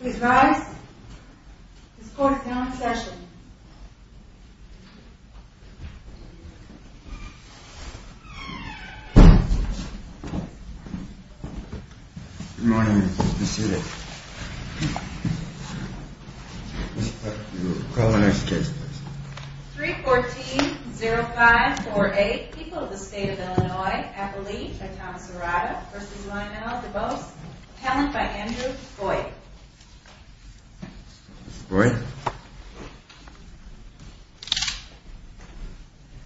Please rise. This court is now in session. Good morning. Please be seated. Ms. Platt, you will call the next case, please. 3-14-05-48 People of the State of Illinois Appellee by Thomas Arada v. Lionel DeBose Appellant by Andrew Boyd Mr. Boyd.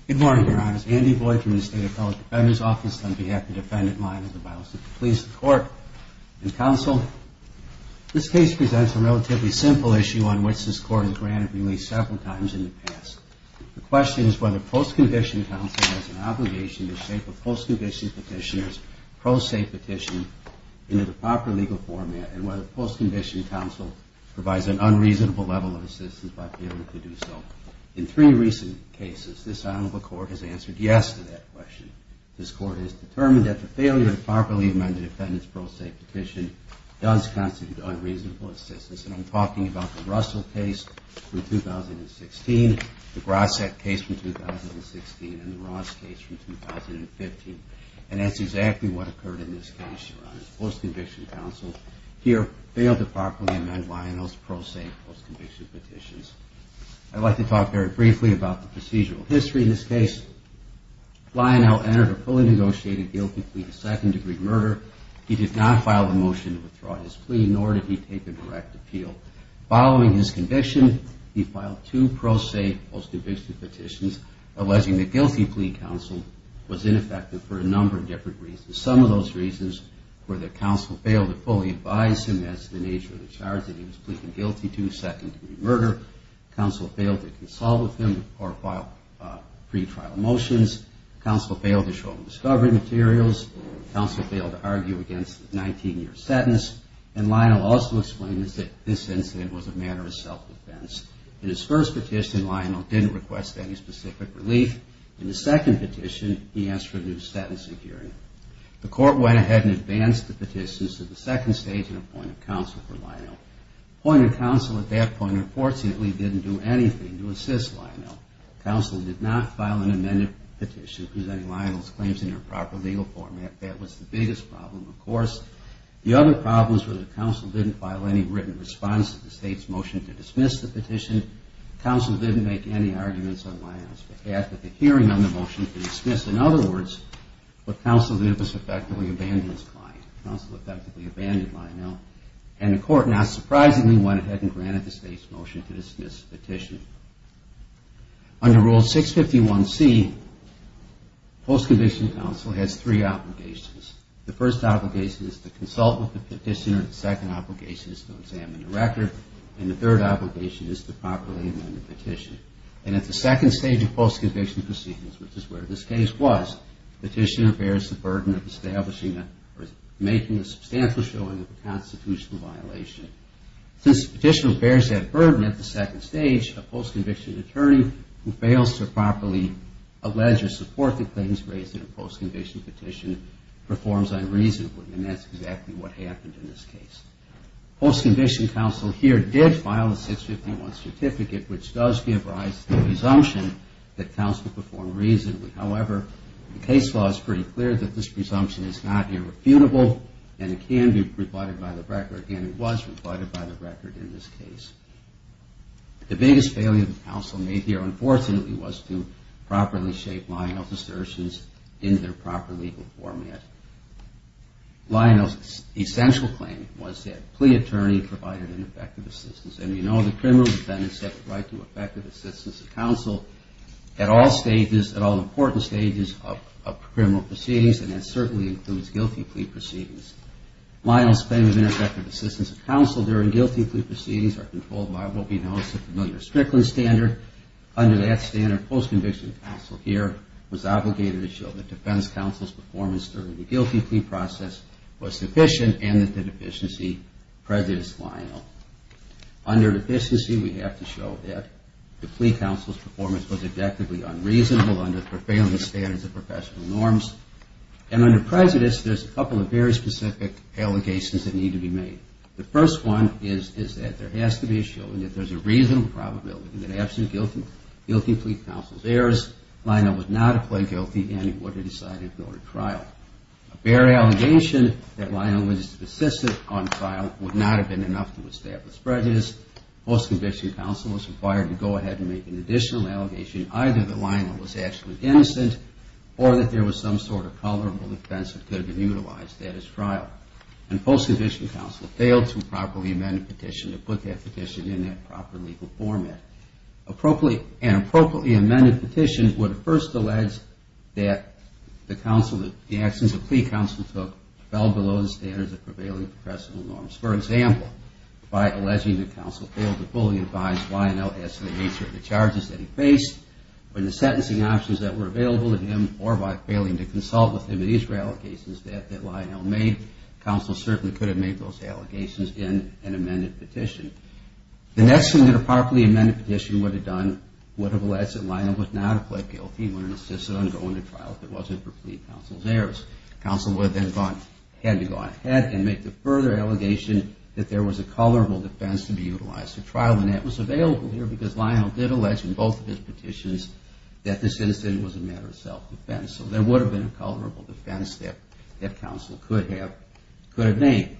Good morning, Your Honors. Andy Boyd from the State Appellate Defender's Office on behalf of Defendant Lionel DeBose to please the Court and Counsel. This case presents a relatively simple issue on which this Court has granted release several times in the past. The question is whether post-condition counsel has an obligation to shape a post-condition petitioner's pro se petition into the proper legal format and whether post-condition counsel provides an unreasonable level of assistance by failing to do so. In three recent cases, this Honorable Court has answered yes to that question. This Court has determined that the failure to properly amend the defendant's pro se petition does constitute unreasonable assistance. And I'm talking about the Russell case from 2016, the Grosset case from 2016, and the Ross case from 2015. And that's exactly what occurred in this case, Your Honors. Post-conviction counsel here failed to properly amend Lionel's pro se post-conviction petitions. I'd like to talk very briefly about the procedural history in this case. Lionel entered a fully negotiated guilty plea to second degree murder. He did not file a motion to withdraw his plea, nor did he take a direct appeal. Following his conviction, he filed two pro se post-conviction petitions alleging the guilty plea counsel was ineffective for a number of different reasons. Some of those reasons were that counsel failed to fully advise him as to the nature of the charge that he was pleading guilty to, second degree murder. Counsel failed to consult with him or file pretrial motions. Counsel failed to show him discovery materials. Counsel failed to argue against his 19-year sentence. And Lionel also explained that this incident was a matter of self-defense. In his first petition, Lionel didn't request any specific relief. In his second petition, he asked for a new sentencing hearing. The court went ahead and advanced the petitions to the second stage and appointed counsel for Lionel. Appointed counsel at that point unfortunately didn't do anything to assist Lionel. Counsel did not file an amended petition presenting Lionel's claims in their proper legal format. That was the biggest problem, of course. The other problems were that counsel didn't make any arguments on Lionel's behalf at the hearing on the motion to dismiss. In other words, what counsel did was effectively abandon his client. Counsel effectively abandoned Lionel. And the court not surprisingly went ahead and granted the state's motion to dismiss the petition. Under Rule 651C, post-conviction counsel has three obligations. The first obligation is to consult with the petitioner. The second obligation is to examine the record. And the third obligation is to properly amend the petition. And at the second stage of post-conviction proceedings, which is where this case was, the petitioner bears the burden of establishing or making a substantial showing of a constitutional violation. Since the petitioner bears that burden at the second stage, a post-conviction attorney who fails to properly allege or support the claims raised in a post-conviction petition performs unreasonably. And that's exactly what happened in this case. Post-conviction counsel here did file a 651 certificate which does give rise to the presumption that counsel performed reasonably. However, the case law is pretty clear that this presumption is not irrefutable and it can be rebutted by the record and it was rebutted by the record in this case. The biggest failure that counsel made here, unfortunately, was to properly shape Lionel's assertions into their proper legal format. Lionel's essential claim was that plea attorney provided ineffective assistance. And we know that criminal defendants have the right to effective assistance of counsel at all stages, at all important stages of criminal proceedings and that certainly includes guilty plea proceedings. Lionel's claim of ineffective assistance of counsel during guilty plea proceedings are controlled by what we know as the familiar Strickland standard. Under that standard, post-conviction counsel here was obligated to show that defense counsel's performance during the guilty plea process was sufficient and that the deficiency preceded Lionel. Under deficiency, we have to show that the plea counsel's performance was objectively unreasonable under the profanity standards of professional norms. And under prejudice, there's a couple of very specific allegations that need to be made. The first one is that there has to be a showing that there's a reasonable probability that absolute guilty plea counsel's errors Lionel would not have pled guilty and he would have decided to go to trial. A bare allegation that Lionel was insistent on trial would not have been enough to establish prejudice. Post-conviction counsel was required to go ahead and make an additional allegation either that Lionel was actually innocent or that there was some sort of tolerable defense that could have utilized that as trial. And post-conviction counsel failed to properly amend the petition to put that petition in that proper legal format. An appropriately amended petition would first allege that the actions the plea counsel took fell below the standards of prevailing professional norms. For example, by alleging that counsel failed to fully advise Lionel as to the nature of the charges that he faced, or the sentencing options that were available to him, or by failing to consult with him at each of the allegations that Lionel made, counsel certainly could have made those allegations in an amended petition. The next thing that a properly amended petition would have done would have alleged that Lionel would not have pled guilty and would have insisted on going to trial if it wasn't for plea counsel's errors. Counsel would have then had to go ahead and make the further allegation that there was a tolerable defense to be utilized for trial and that was available here because Lionel did allege in both of his petitions that the sentencing was a matter of self-defense. So there would have been a tolerable defense that counsel could have made.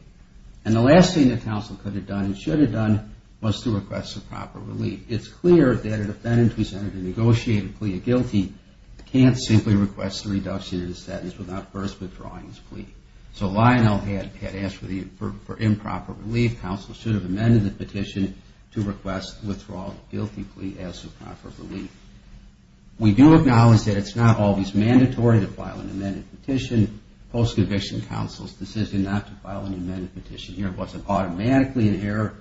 And the last thing that counsel could have done and should have done was to request a proper relief. It's clear that a defendant presented a negotiated plea of guilty can't simply request a reduction in the sentence without first withdrawing his plea. So Lionel had asked for improper relief. Counsel should have amended the petition to request withdrawal of the guilty plea as a proper relief. We do acknowledge that it's not always mandatory to file an amended petition. Post-conviction counsel's decision not to file an amended petition here wasn't automatically an error,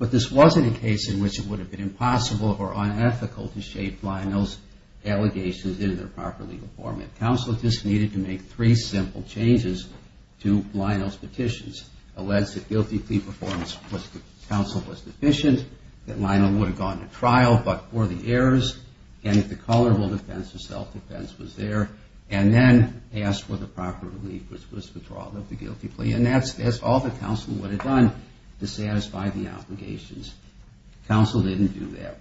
but this wasn't a case in which it would have been impossible or unethical to shape Lionel's allegations into their proper legal format. Counsel just needed to make three simple changes to Lionel's petitions. Alleged that guilty plea performance for counsel was deficient, that Lionel would have gone to trial but for the errors, and that the tolerable defense or self-defense was there. And then asked for the proper relief which was withdrawal of the guilty plea. And that's all that counsel would have done to satisfy the obligations. Counsel didn't do that.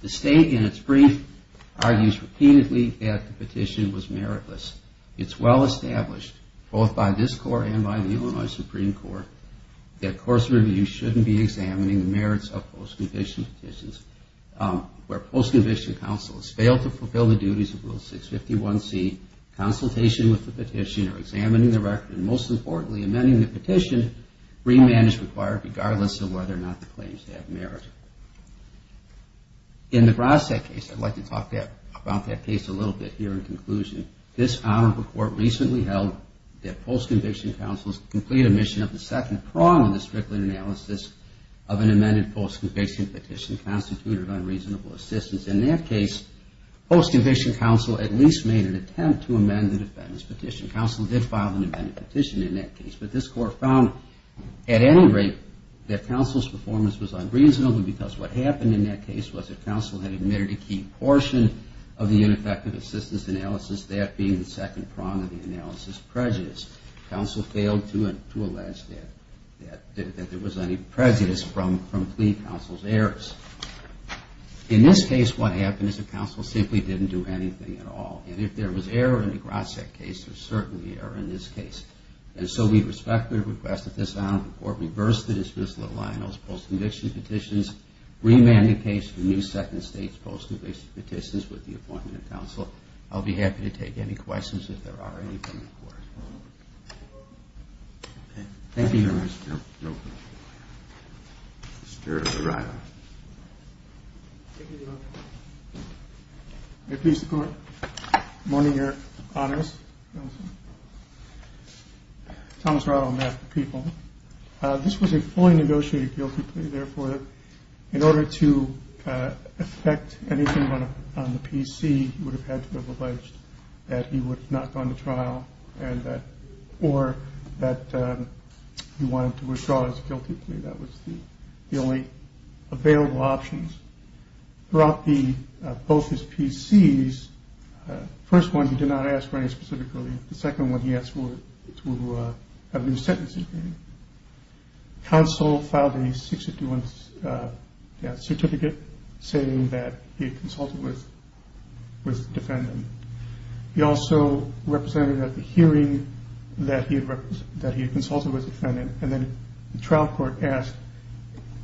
The state in its brief argues repeatedly that the petition was meritless. It's well established both by this court and by the Illinois Supreme Court that course review shouldn't be examining the merits of post-conviction petitions where post-conviction counsel has failed to fulfill the duties of Rule 651C, consultation with the petitioner, examining the record, and most importantly, amending the petition re-manage required regardless of whether or not the claims have merit. In the Brossett case, I'd like to talk about that case a little bit here in conclusion. This honorable court recently held that post-conviction counsel's complete omission of the second prong of the Strickland analysis of an amended post-conviction petition constituted unreasonable assistance. In that case, post-conviction counsel at least made an attempt to amend the defendant's petition. Counsel did file an amended petition in that case, but this court found at any rate that counsel's performance was unreasonable because what happened in that case was that counsel had admitted a key portion of the ineffective assistance analysis, that being the second prong of the analysis prejudice. Counsel failed to allege that there was any prejudice from plea counsel's errors. In this case, what happened is that counsel simply didn't do anything at all, and if there was error in the Brossett case, there's certainly error in this case. And so we respectfully request that this honorable court reverse the dismissal of Lionel's post-conviction petitions, re-man the case for new second-stage post-conviction petitions with the appointment of counsel. I'll be happy to take any questions if there are any from the court. Thank you, Your Honor. Mr. Rado. Thank you, Your Honor. May it please the Court. Good morning, Your Honors. Thomas Rado on behalf of the people. This was a fully negotiated guilty plea. Therefore, in order to affect anything on the PC, you would have had to have alleged that he would not have gone to trial or that he wanted to withdraw his guilty plea. That was the only available options. Throughout both his PCs, the first one he did not ask for any specifically. The second one he asked for was to have a new sentencing hearing. Counsel filed a certificate saying that he had consulted with the defendant. He also represented at the hearing that he had consulted with the defendant. The trial court asked,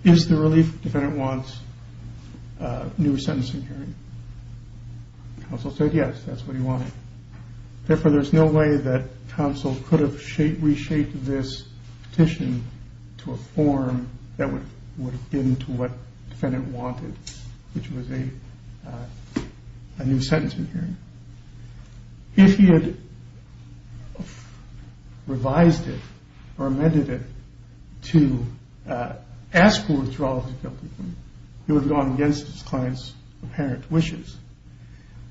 is the relief the defendant wants a new sentencing hearing? Counsel said yes, that's what he wanted. Therefore, there's no way that counsel could have reshaped this petition to a form that would have been to what the defendant wanted, which was a new sentencing hearing. If he had revised it or amended it to ask for withdrawal of the guilty plea, he would have gone against his client's apparent wishes.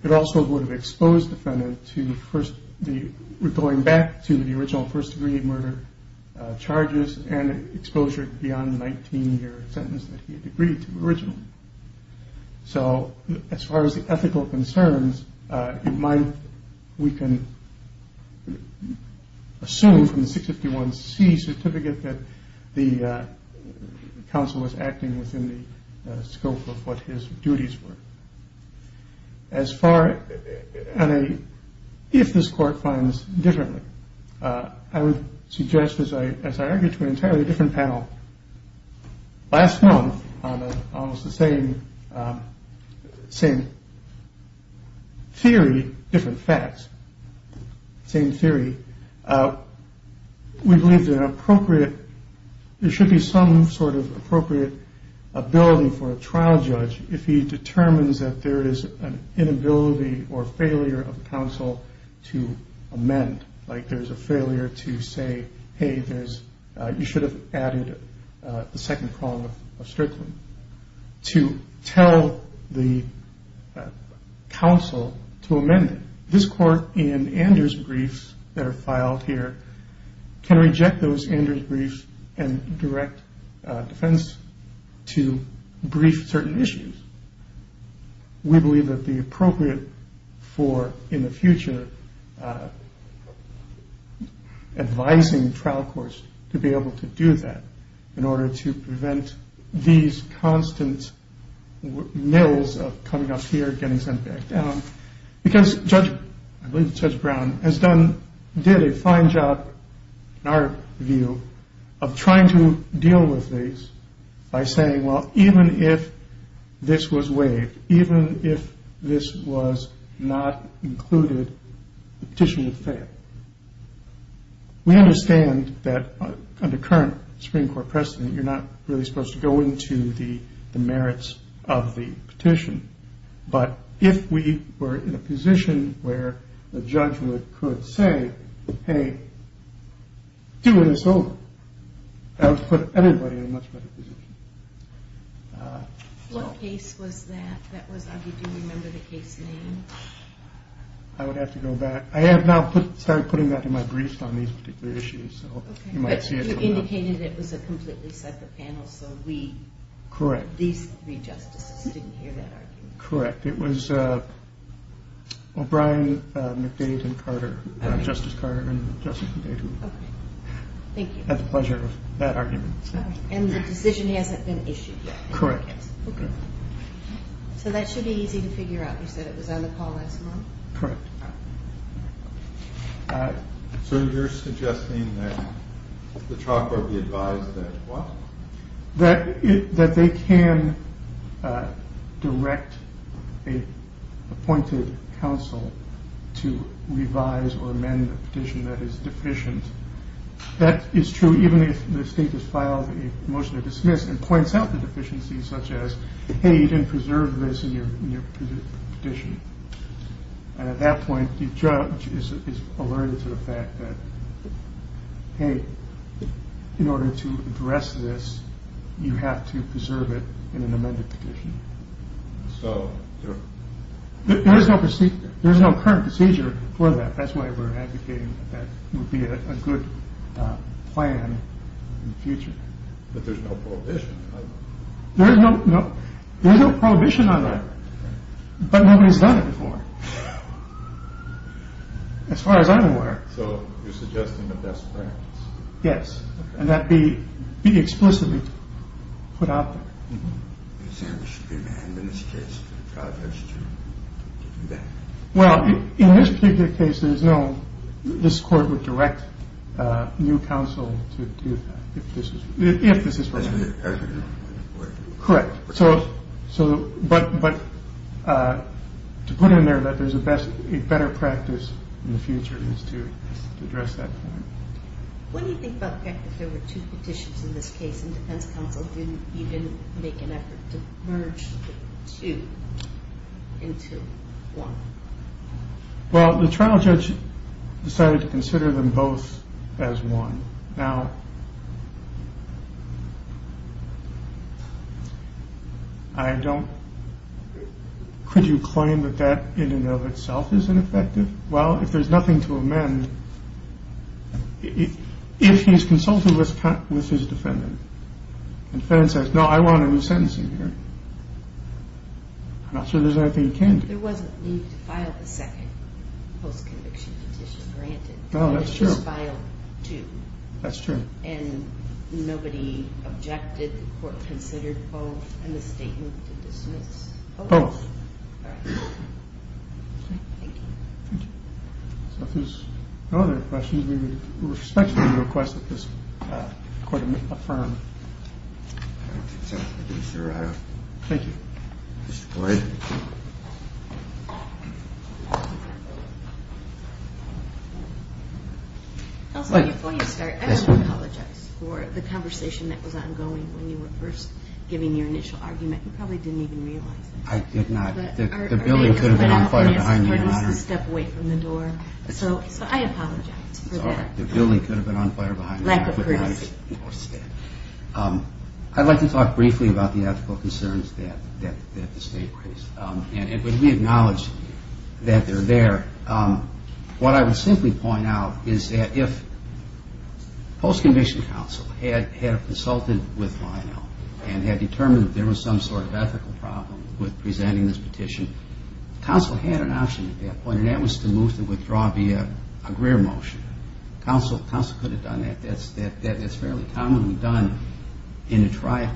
It also would have exposed the defendant to going back to the original first-degree murder charges and exposure beyond the 19-year sentence that he had agreed to originally. So, as far as ethical concerns, we can assume from the 651C certificate that the counsel was acting within the scope of what his duties were. As far as if this court finds differently, I would suggest, as I argued to an entirely different panel last month on almost the same theory, different facts, same theory, we believe there should be some sort of appropriate ability for a trial judge if he determines that there is an inability or failure of counsel to amend, like there's a failure to say, hey, you should have added the second prong of strickling. To tell the counsel to amend it. This court in Anders' briefs that are filed here can reject those Anders' briefs and direct defense to brief certain issues. We believe it would be appropriate for, in the future, advising trial courts to be able to do that in order to prevent these constant mills of coming up here, getting sent back down. Because Judge Brown has done, did a fine job, in our view, of trying to deal with these by saying, well, even if this was waived, even if this was not included, the petition would fail. We understand that under current Supreme Court precedent, you're not really supposed to go into the merits of the petition. But if we were in a position where the judge could say, hey, do this over. That would put anybody in a much better position. What case was that? Do you remember the case name? I would have to go back. I have now started putting that in my briefs on these particular issues. You indicated it was a completely separate panel. Correct. These three justices didn't hear that argument. Correct. It was O'Brien, McDade, and Carter. Justice Carter and Justice McDade. I had the pleasure of that argument. And the decision hasn't been issued yet? Correct. So that should be easy to figure out. You said it was on the call last month? Correct. So you're suggesting that the trial court be advised that what? That they can direct an appointed counsel to revise or amend the petition that is deficient. That is true even if the state has filed a motion to dismiss and points out the deficiencies such as, hey, you didn't preserve this in your petition. And at that point, the judge is alerted to the fact that hey, in order to address this you have to preserve it in an amended petition. There is no current procedure for that. That's why we're advocating that it would be a good plan in the future. But there's no prohibition? There's no prohibition on that. But nobody's done it before. As far as I'm aware. So you're suggesting the best practice? Yes. And that be explicitly put out there. Is there an amendment in this case? Well, in this particular case, there's no this court would direct new counsel to do that. Correct. But to put it in there that there's a better practice in the future is to address that point. What do you think about the fact that there were two petitions in this case and defense counsel didn't even make an effort to merge the two into one? Well, the trial judge decided to consider them both as one. Now, I don't could you claim that that in and of itself is ineffective? Well, if there's nothing to amend if he's consulted with his defendant and the defendant says, no, I want a new sentencing hearing I'm not sure there's anything he can do. There wasn't a need to file the second post-conviction petition, granted. Oh, that's true. And nobody objected? The court considered both? Both. Thank you. If there's no other questions, we respectfully request that this court be confirmed. Thank you. Mr. Boyd? Before you start, I want to apologize for the conversation that was ongoing when you were first giving your initial argument. You probably didn't even realize it. I did not. The building could have been on fire behind me. So I apologize for that. Lack of courtesy. I'd like to talk briefly about the ethical concerns that the state raised. What I would simply point out is that if post-conviction counsel had consulted with Lionel and had determined that there was some sort of ethical problem with presenting this petition, counsel had an option at that point and that was to move to withdraw via a Greer motion. Counsel could have done that. That's fairly commonly done in a trial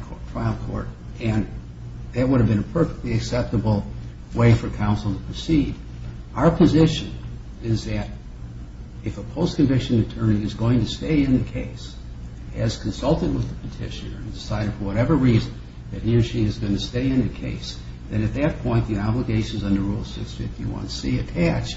court and that would have been a perfectly acceptable way for counsel to proceed. Our position is that if a post-conviction attorney is going to stay in the case, has consulted with the petitioner and decided for whatever reason that he or she is going to stay in the case, then at that point the obligations under Rule 651C attach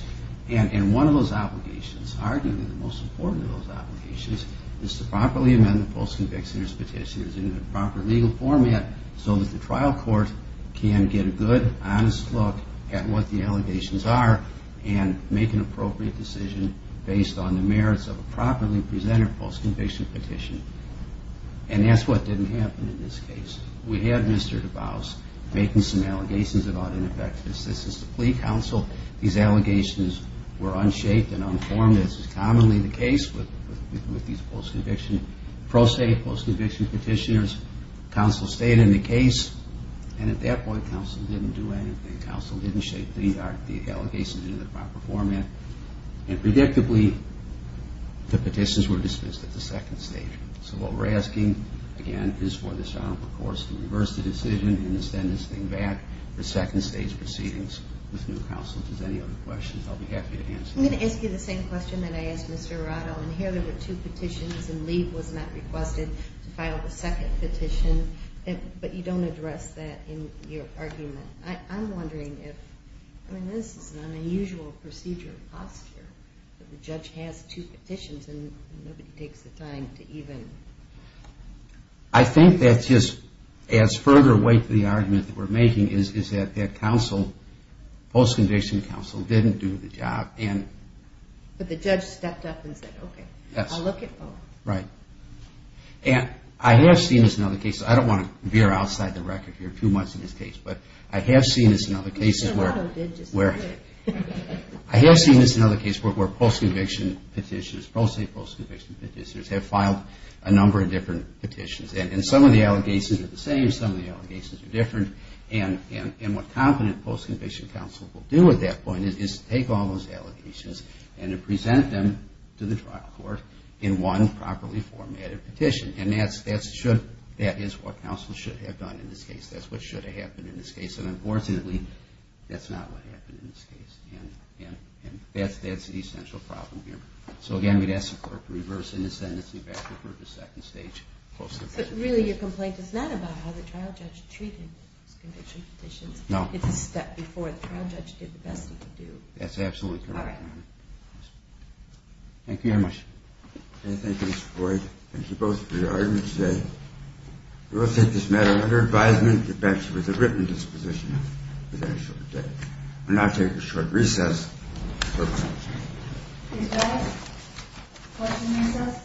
and one of those obligations, arguably the most important of those obligations is to properly amend the post-convictioner's petition in the proper legal format so that the trial court can get a good, honest look at what the allegations are and make an appropriate decision based on the merits of a properly presented post-conviction petition. And that's what didn't happen in this case. We had Mr. DuBose making some allegations about ineffective assistance to plea counsel. These allegations were unshaped and unformed as is commonly the case with these post-conviction, pro se post-conviction petitioners. Counsel stayed in the case and at that point counsel didn't do anything. Counsel didn't shape the allegations into the proper format and predictably the petitions were dismissed at the second stage. So what we're asking again is for this Honorable Course to reverse the decision and extend this thing back to second stage proceedings with new counsel. If there's any other questions I'll be happy to answer them. I'm going to ask you the same question that I asked Mr. Arado and here there were two petitions and Lee was not requested to file the second petition but you don't address that in your argument. I'm wondering if, I mean this is an unusual procedure of posture that the judge has two petitions and nobody takes the time to even I think that just adds further weight to the argument that we're making is that counsel, post-conviction counsel didn't do the job. But the judge stepped up and said okay, I'll look at both. Right. I have seen this in other cases. I don't want to veer outside the record here too much in this case but I have seen this in other cases where I have seen this in other cases where post-conviction petitioners, pro se post-conviction petitioners have filed a number of different petitions and some of the cases are different and what competent post-conviction counsel will do at that point is take all those allegations and present them to the trial court in one properly formatted petition and that's what counsel should have done in this case. That's what should have happened in this case and unfortunately that's not what happened in this case and that's the essential problem here. So again, I'm going to ask the clerk to reverse the sentence and get back to the second stage. But really your complaint is not about how the trial judge treated those conviction petitions. No. It's a step before the trial judge did the best he could do. That's absolutely correct. Thank you very much. Thank you Mr. Boyd. Thank you both for your arguments today. We will take this matter under advisement and get back to you with a written disposition within a short day. We'll now take a short recess. Is that a question recess? Thank you.